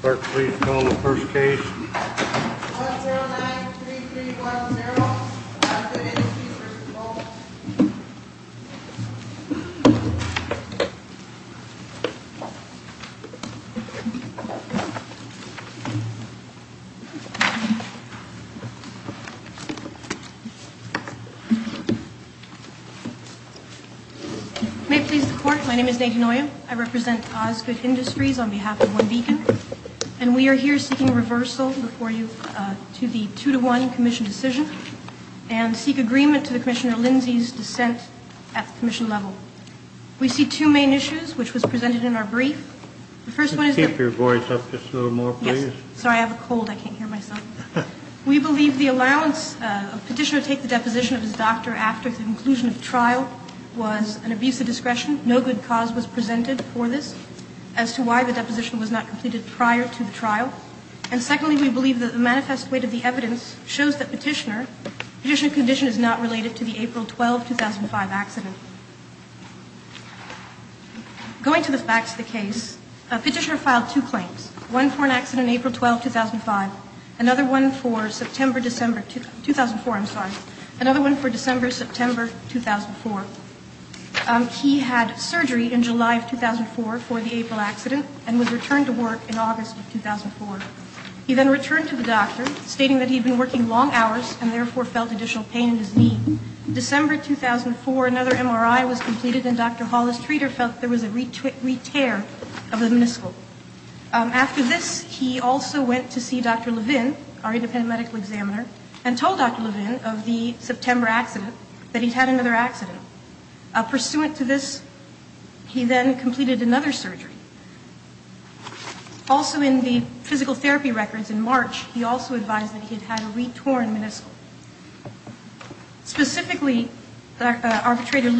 Clerk, please call the first case. 1093310, Osgood Industries v. Bolton. May it please the Court, my name is Nadine Oyo. I represent Osgood Industries on behalf of One Beacon. And we are here seeking reversal before you to the two-to-one commission decision and seek agreement to the Commissioner Lindsay's dissent at the commission level. We see two main issues, which was presented in our brief. The first one is- Keep your voice up just a little more, please. Sorry, I have a cold. I can't hear myself. We believe the allowance of a petitioner to take the deposition of his doctor after the conclusion of the trial was an abuse of discretion. No good cause was presented for this as to why the deposition was not completed prior to the trial. And secondly, we believe that the manifest weight of the evidence shows that petitioner, petitioner condition is not related to the April 12, 2005 accident. Going to the facts of the case, a petitioner filed two claims. One for an accident on April 12, 2005. Another one for September, December 2004, I'm sorry. Another one for December, September 2004. He had surgery in July of 2004 for the April accident and was returned to work in August of 2004. He then returned to the doctor, stating that he'd been working long hours and therefore felt additional pain in his knee. December 2004, another MRI was completed and Dr. Hollis Treter felt there was a re-tear of the meniscal. After this, he also went to see Dr. Levin, our independent medical examiner, and told Dr. Levin of the September accident that he'd had another accident. Pursuant to this, he then completed another surgery. Also in the physical therapy records in March, he also advised that he'd had a re-torn meniscal. Specifically, our arbitrator,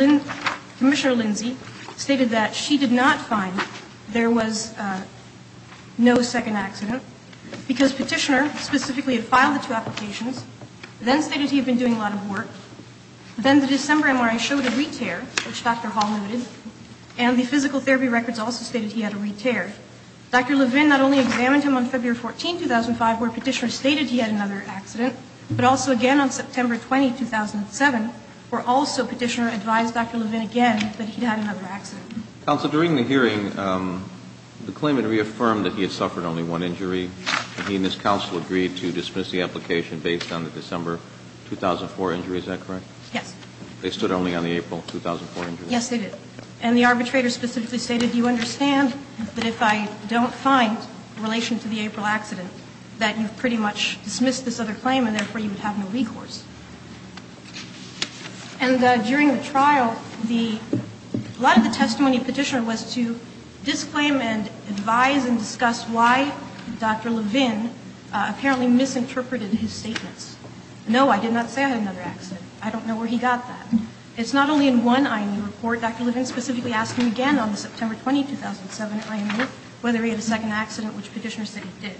Commissioner Lindsay, stated that she did not find there was no second accident because Petitioner specifically had filed the two applications, then stated he had been doing a lot of work, then the December MRI showed a re-tear, which Dr. Hollis noted, and the physical therapy records also stated he had a re-tear. Dr. Levin not only examined him on February 14, 2005, where Petitioner stated he had another accident, but also again on September 20, 2007, where also Petitioner advised Dr. Levin again that he'd had another accident. Counsel, during the hearing, the claimant reaffirmed that he had suffered only one injury, and he and his counsel agreed to dismiss the application based on the December 2004 injury. Is that correct? Yes. They stood only on the April 2004 injury. Yes, they did. And the arbitrator specifically stated, you understand that if I don't find in relation to the April accident that you've pretty much dismissed this other claim and therefore you would have no recourse. And during the trial, a lot of the testimony of Petitioner was to disclaim and advise and discuss why Dr. Levin apparently misinterpreted his statements. No, I did not say I had another accident. I don't know where he got that. It's not only in one IME report. Dr. Levin specifically asked him again on the September 20, 2007 IME, whether he had a second accident, which Petitioner said he did.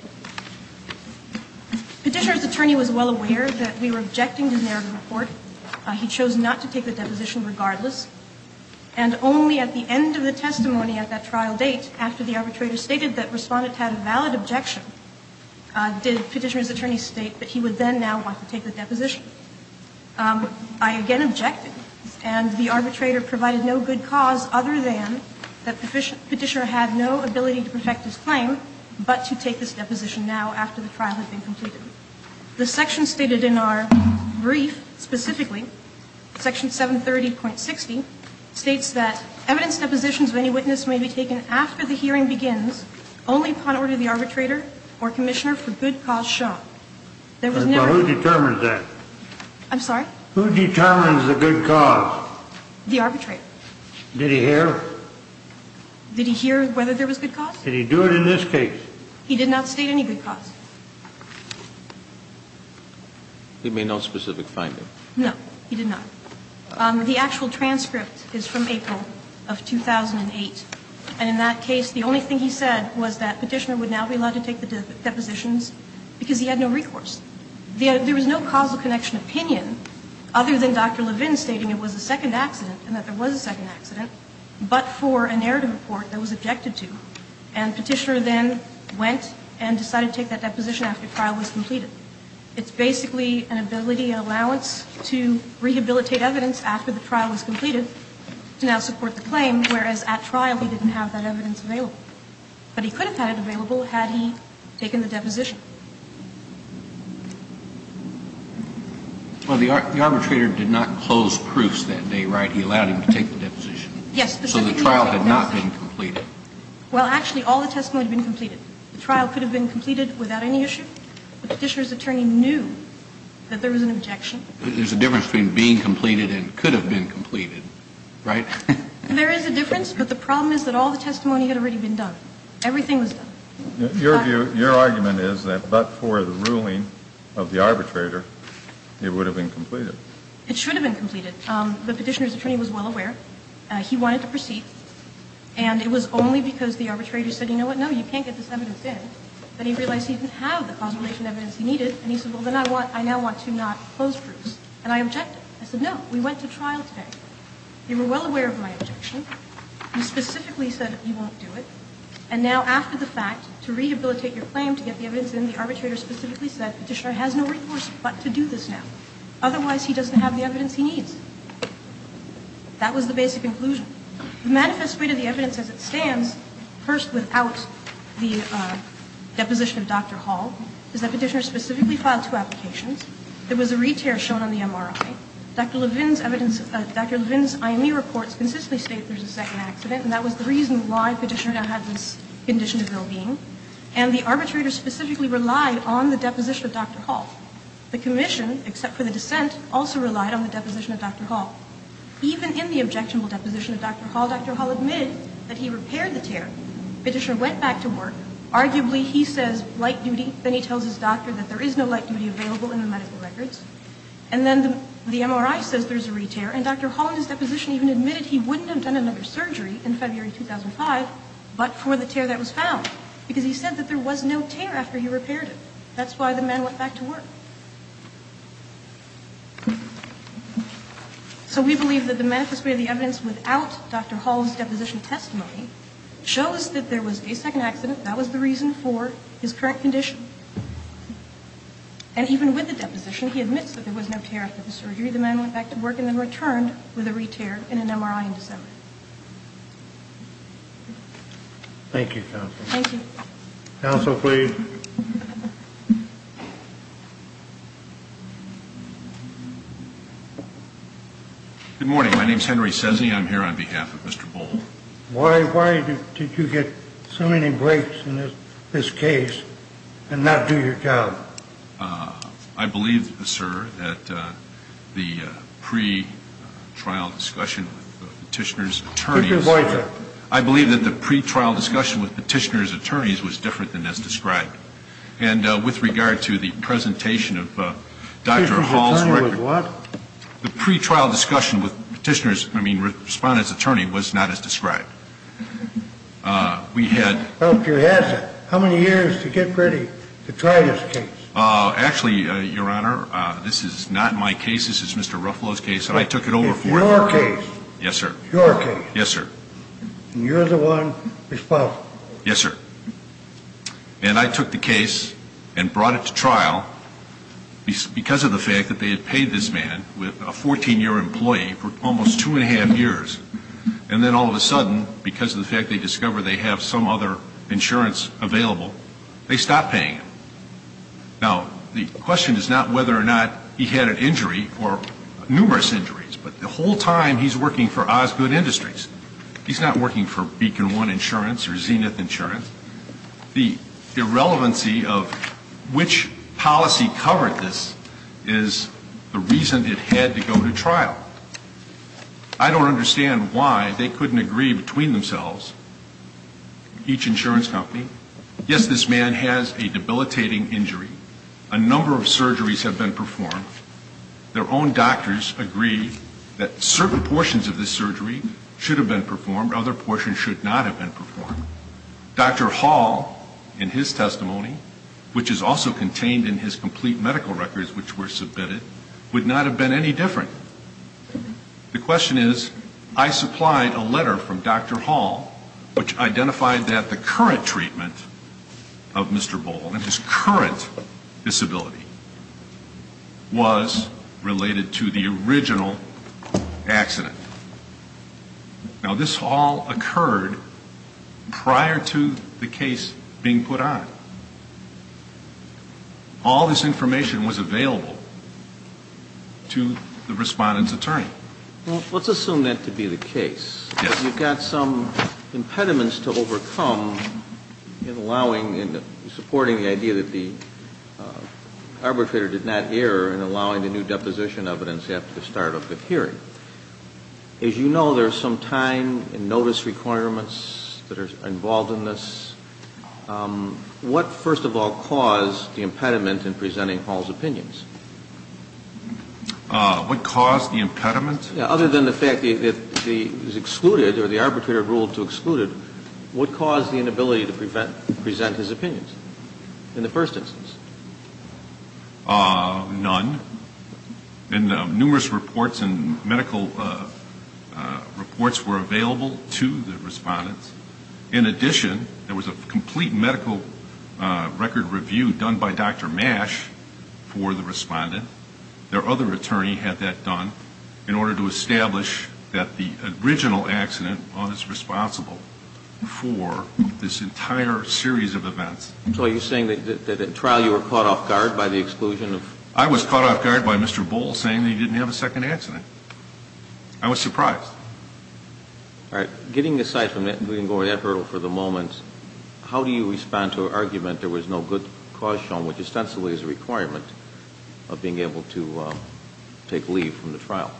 Petitioner's attorney was well aware that we were objecting to the narrative report. He chose not to take the deposition regardless. And only at the end of the testimony at that trial date, after the arbitrator stated that Respondent had a valid objection, did Petitioner's attorney state that he would then now want to take the deposition. I again objected. And the arbitrator provided no good cause other than that Petitioner had no ability to protect his claim, but to take this deposition now after the trial had been completed. The section stated in our brief specifically, Section 730.60, states that evidence depositions of any witness may be taken after the hearing begins only upon order of the arbitrator or commissioner for good cause shown. There was never ---- But who determines that? I'm sorry? Who determines the good cause? The arbitrator. Did he hear? Did he hear whether there was good cause? Did he do it in this case? He did not state any good cause. He made no specific finding? No, he did not. The actual transcript is from April of 2008. And in that case, the only thing he said was that Petitioner would now be allowed to take the depositions because he had no recourse. There was no causal connection opinion other than Dr. Levin stating it was a second accident and that there was a second accident. But for a narrative report that was objected to, and Petitioner then went and decided to take that deposition after the trial was completed. It's basically an ability allowance to rehabilitate evidence after the trial was completed to now support the claim, whereas at trial he didn't have that evidence available. But he could have had it available had he taken the deposition. Well, the arbitrator did not close proofs that day, right? So the trial had not been completed. Well, actually all the testimony had been completed. The trial could have been completed without any issue. The Petitioner's attorney knew that there was an objection. There's a difference between being completed and could have been completed, right? There is a difference, but the problem is that all the testimony had already been done. Everything was done. Your argument is that but for the ruling of the arbitrator, it would have been completed. It should have been completed. The Petitioner's attorney was well aware. He wanted to proceed. And it was only because the arbitrator said, you know what, no, you can't get this evidence in, that he realized he didn't have the consolidation evidence he needed. And he said, well, then I now want to not close proofs. And I objected. I said, no, we went to trial today. You were well aware of my objection. You specifically said you won't do it. And now after the fact, to rehabilitate your claim, to get the evidence in, the arbitrator specifically said Petitioner has no recourse but to do this now. Otherwise he doesn't have the evidence he needs. That was the basic conclusion. The manifest way to the evidence as it stands, first without the deposition of Dr. Hall, is that Petitioner specifically filed two applications. There was a re-tear shown on the MRI. Dr. Levin's IME reports consistently state there's a second accident, and that was the reason why Petitioner now had this condition of well-being. And the arbitrator specifically relied on the deposition of Dr. Hall. The commission, except for the dissent, also relied on the deposition of Dr. Hall. Even in the objectionable deposition of Dr. Hall, Dr. Hall admitted that he repaired the tear. Petitioner went back to work. Arguably he says light duty. Then he tells his doctor that there is no light duty available in the medical records. And then the MRI says there's a re-tear. And Dr. Hall in his deposition even admitted he wouldn't have done another surgery in February 2005 but for the tear that was found, because he said that there was no tear after he repaired it. That's why the man went back to work. So we believe that the manifest way of the evidence without Dr. Hall's deposition testimony shows that there was a second accident. That was the reason for his current condition. And even with the deposition, he admits that there was no tear after the surgery. The man went back to work and then returned with a re-tear and an MRI in December. Thank you, counsel. Thank you. Counsel, please. Good morning. My name is Henry Sesney. I'm here on behalf of Mr. Bohl. Why did you get so many breaks in this case and not do your job? I believe, sir, that the pre-trial discussion with Petitioner's attorneys. Put your voice up. I believe that the pre-trial discussion with Petitioner's attorneys was different than as described. And with regard to the presentation of Dr. Hall's record. Petitioner's attorney was what? The pre-trial discussion with Petitioner's, I mean Respondent's attorney, was not as described. We had. How many years to get ready to try this case? Actually, Your Honor, this is not my case. This is Mr. Ruffalo's case. I took it over for him. It's your case. Yes, sir. Your case. Yes, sir. And you're the one responsible. Yes, sir. And I took the case and brought it to trial because of the fact that they had paid this man with a 14-year employee for almost two and a half years. And then all of a sudden, because of the fact they discovered they have some other insurance available, they stopped paying him. Now, the question is not whether or not he had an injury or numerous injuries. But the whole time he's working for Osgood Industries, he's not working for Beacon One Insurance or Zenith Insurance. The irrelevancy of which policy covered this is the reason it had to go to trial. I don't understand why they couldn't agree between themselves, each insurance company. Yes, this man has a debilitating injury. A number of surgeries have been performed. Their own doctors agree that certain portions of this surgery should have been performed. Other portions should not have been performed. Dr. Hall, in his testimony, which is also contained in his complete medical records which were submitted, would not have been any different. The question is, I supplied a letter from Dr. Hall which identified that the current treatment of Mr. Bohl and his current disability was related to the original accident. Now, this all occurred prior to the case being put on. All this information was available to the respondent's attorney. Well, let's assume that to be the case. Yes. You've got some impediments to overcome in allowing and supporting the idea that the arbitrator did not err in allowing the new deposition evidence after the start of the hearing. As you know, there's some time and notice requirements that are involved in this. What, first of all, caused the impediment in presenting Hall's opinions? What caused the impediment? Other than the fact that he was excluded or the arbitrator ruled to exclude him, what caused the inability to present his opinions in the first instance? None. Numerous reports and medical reports were available to the respondents. In addition, there was a complete medical record review done by Dr. Mash for the respondent. Their other attorney had that done in order to establish that the original accident was responsible for this entire series of events. So are you saying that in trial you were caught off guard by the exclusion? I was caught off guard by Mr. Bohl saying that he didn't have a second answer. I was surprised. All right. Getting aside from that and going over that hurdle for the moment, how do you respond to an argument there was no good cause shown, which ostensibly is a requirement of being able to take leave from the trial?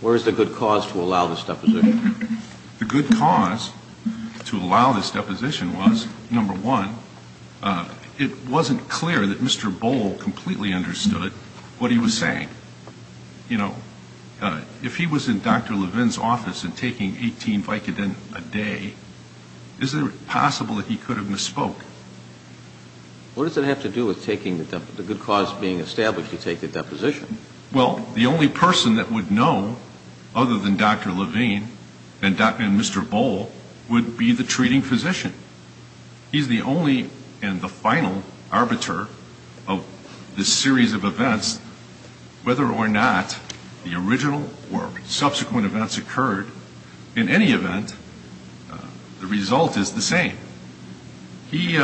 Where is the good cause to allow this deposition? The good cause to allow this deposition was, number one, it wasn't clear that Mr. Bohl completely understood what he was saying. You know, if he was in Dr. Levine's office and taking 18 Vicodin a day, is it possible that he could have misspoke? What does it have to do with taking the good cause being established to take the deposition? Well, the only person that would know other than Dr. Levine and Mr. Bohl would be the treating physician. He's the only and the final arbiter of this series of events. Whether or not the original or subsequent events occurred, in any event, the result is the same. He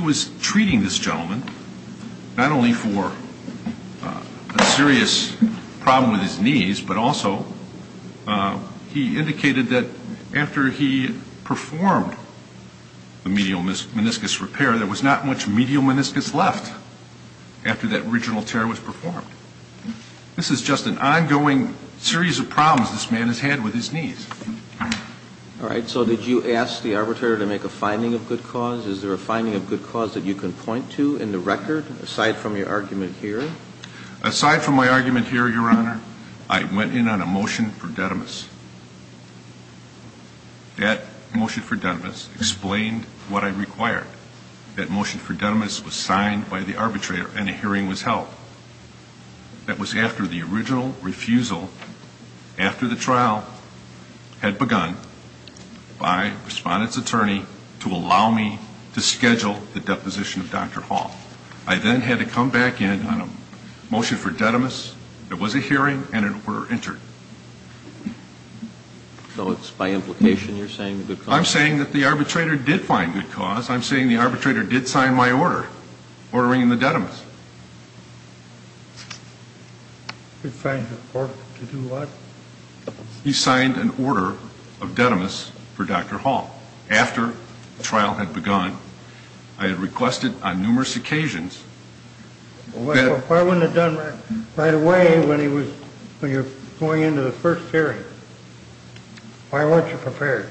was treating this gentleman not only for a serious problem with his knees, but also he indicated that after he performed the medial meniscus repair, there was not much medial meniscus left after that original tear was performed. This is just an ongoing series of problems this man has had with his knees. All right. So did you ask the arbitrator to make a finding of good cause? Is there a finding of good cause that you can point to in the record, aside from your argument here? Aside from my argument here, Your Honor, I went in on a motion for denimis. That motion for denimis explained what I required. That motion for denimis was signed by the arbitrator and a hearing was held. That was after the original refusal after the trial had begun by a respondent's attorney to allow me to schedule the deposition of Dr. Hall. I then had to come back in on a motion for denimis. There was a hearing and an order entered. So it's by implication you're saying good cause? I'm saying that the arbitrator did find good cause. I'm saying the arbitrator did sign my order ordering the denimis. He signed an order to do what? He signed an order of denimis for Dr. Hall. After the trial had begun, I had requested on numerous occasions. Why wasn't it done right away when you're going into the first hearing? Why weren't you prepared?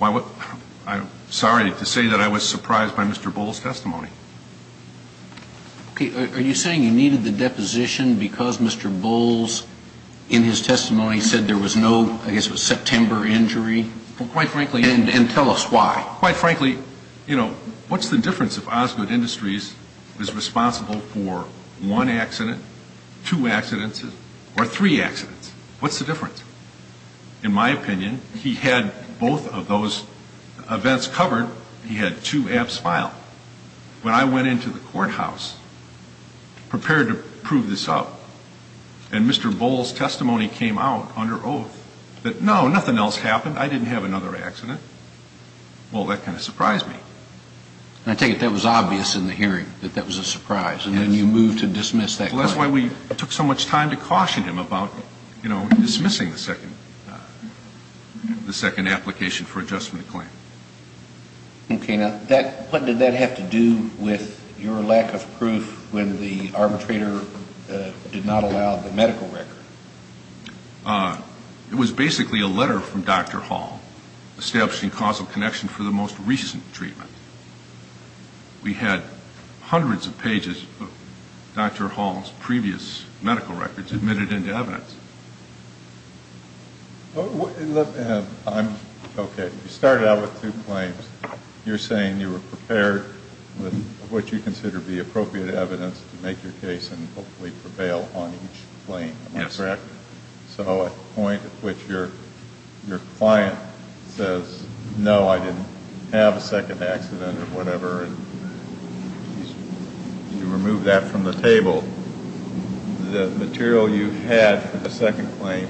I'm sorry to say that I was surprised by Mr. Bowles' testimony. Okay. Are you saying you needed the deposition because Mr. Bowles, in his testimony, said there was no, I guess it was September injury? Quite frankly. And tell us why. Quite frankly, you know, what's the difference if Osgood Industries was responsible What's the difference? In my opinion, he had both of those events covered. He had two abs file. When I went into the courthouse prepared to prove this up, and Mr. Bowles' testimony came out under oath that, no, nothing else happened. I didn't have another accident. Well, that kind of surprised me. I take it that was obvious in the hearing, that that was a surprise, and then you moved to dismiss that claim. Well, that's why we took so much time to caution him about, you know, dismissing the second application for adjustment of claim. Okay. Now, what did that have to do with your lack of proof when the arbitrator did not allow the medical record? It was basically a letter from Dr. Hall establishing causal connection for the most recent treatment. We had hundreds of pages of Dr. Hall's previous medical records admitted into evidence. Okay. You started out with two claims. You're saying you were prepared with what you consider to be appropriate evidence to make your case and hopefully prevail on each claim. Am I correct? Yes. So at the point at which your client says, no, I didn't have a second accident or whatever, and you remove that from the table, the material you had for the second claim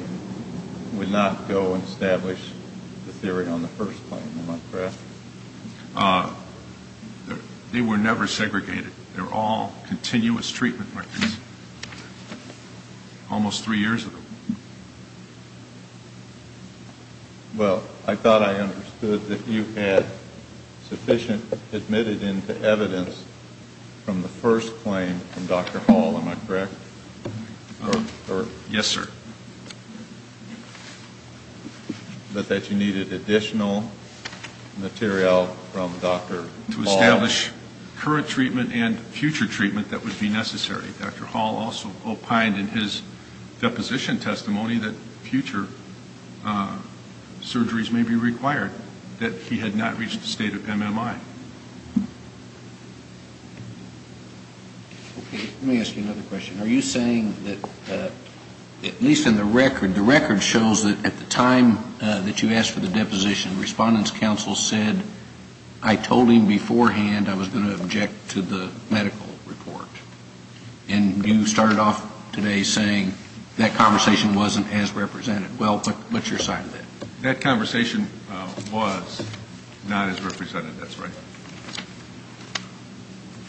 would not go and establish the theory on the first claim. Am I correct? They were never segregated. They're all continuous treatment records. Almost three years ago. Well, I thought I understood that you had sufficient admitted into evidence from the first claim from Dr. Hall. Am I correct? Yes, sir. But that you needed additional material from Dr. Hall. Current treatment and future treatment that would be necessary. Dr. Hall also opined in his deposition testimony that future surgeries may be required, that he had not reached the state of MMI. Okay. Let me ask you another question. Are you saying that, at least in the record, the record shows that at the time that you asked for the deposition, Respondent's counsel said, I told him beforehand I was going to object to the medical report. And you started off today saying that conversation wasn't as represented. Well, what's your side of that? That conversation was not as represented. That's right.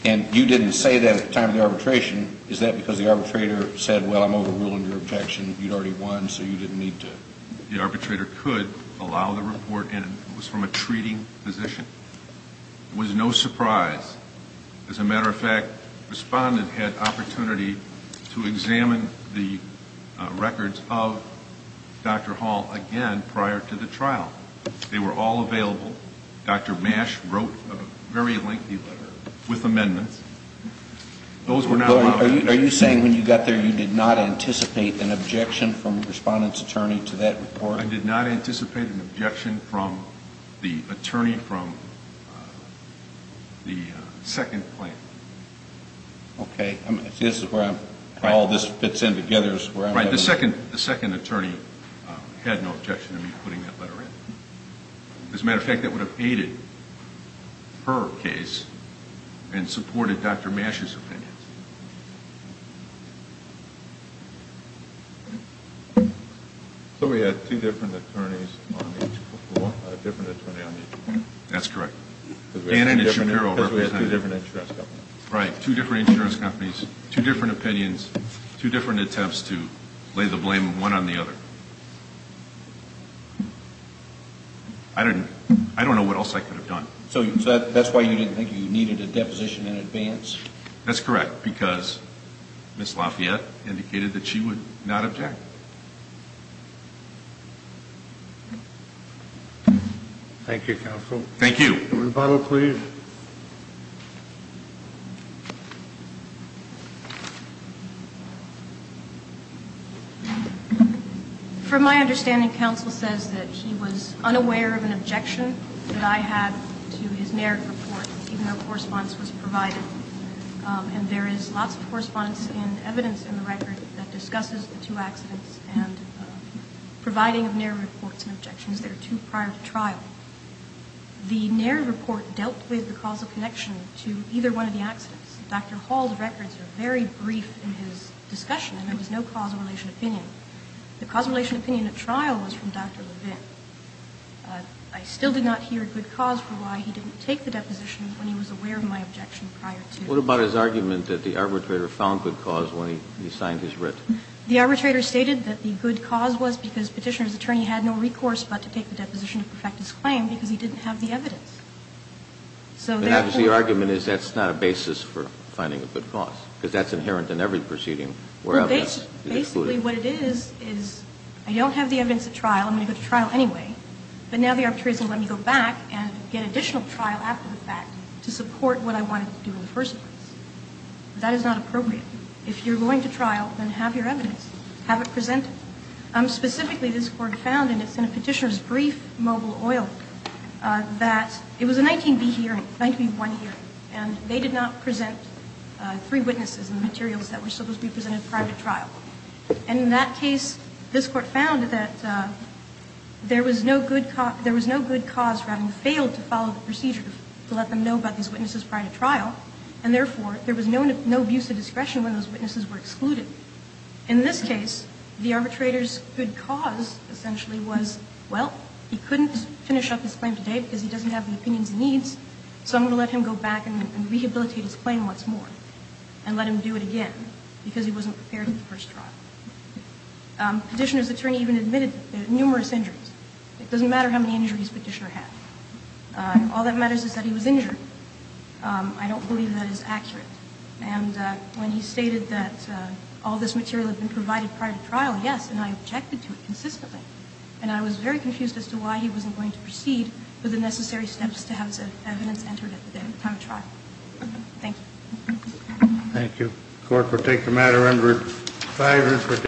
And you didn't say that at the time of the arbitration. Is that because the arbitrator said, well, I'm overruling your objection, you'd already won, so you didn't need to? The arbitrator could allow the report, and it was from a treating physician. It was no surprise. As a matter of fact, Respondent had opportunity to examine the records of Dr. Hall again prior to the trial. They were all available. Dr. Mash wrote a very lengthy letter with amendments. Those were not allowed. Are you saying when you got there you did not anticipate an objection from Respondent's attorney to that report? I did not anticipate an objection from the attorney from the second claim. Okay. This is where all this fits in together. Right. The second attorney had no objection to me putting that letter in. As a matter of fact, that would have aided her case and supported Dr. Mash's opinion. So we had two different attorneys on each one? A different attorney on each one? That's correct. Because we had two different insurance companies. Right, two different insurance companies, two different opinions, two different attempts to lay the blame one on the other. I don't know what else I could have done. So that's why you didn't think you needed a deposition in advance? That's correct, because Ms. Lafayette indicated that she would not object. Thank you, Counsel. Thank you. Rebuttal, please. From my understanding, Counsel says that he was unaware of an objection that I had to his NARIC report, even though correspondence was provided. And there is lots of correspondence and evidence in the record that discusses the two accidents and providing of NARIC reports and objections. There are two prior to trial. The NARIC report dealt with the causal connection to either one of the accidents. Dr. Hall's records are very brief in his discussion, and there was no causal relation opinion. The causal relation opinion at trial was from Dr. Levin. I still did not hear a good cause for why he didn't take the deposition when he was aware of my objection prior to. What about his argument that the arbitrator found good cause when he signed his writ? The arbitrator stated that the good cause was because Petitioner's attorney had no recourse but to take the deposition to perfect his claim because he didn't have the evidence. So therefore the argument is that's not a basis for finding a good cause, because that's inherent in every proceeding. Well, basically what it is, is I don't have the evidence at trial. I'm going to go to trial anyway. But now the arbitrator is going to let me go back and get additional trial after the fact to support what I wanted to do in the first place. That is not appropriate. If you're going to trial, then have your evidence. Have it presented. Specifically, this Court found, and it's in Petitioner's brief, Mobile Oil, that it was a 19b hearing, 19b1 hearing, and they did not present three witnesses and the materials that were supposed to be presented prior to trial. And in that case, this Court found that there was no good cause for having failed to follow the procedure to let them know about these witnesses prior to trial. And therefore, there was no abuse of discretion when those witnesses were excluded. In this case, the arbitrator's good cause essentially was, well, he couldn't finish up his claim today because he doesn't have the opinions he needs, so I'm going to let him go back and rehabilitate his claim once more and let him do it again because he wasn't prepared for the first trial. Petitioner's attorney even admitted numerous injuries. It doesn't matter how many injuries Petitioner had. All that matters is that he was injured. I don't believe that is accurate. And when he stated that all this material had been provided prior to trial, yes, and I objected to it consistently. And I was very confused as to why he wasn't going to proceed with the necessary steps to have evidence entered at the time of trial. Thank you. Thank you.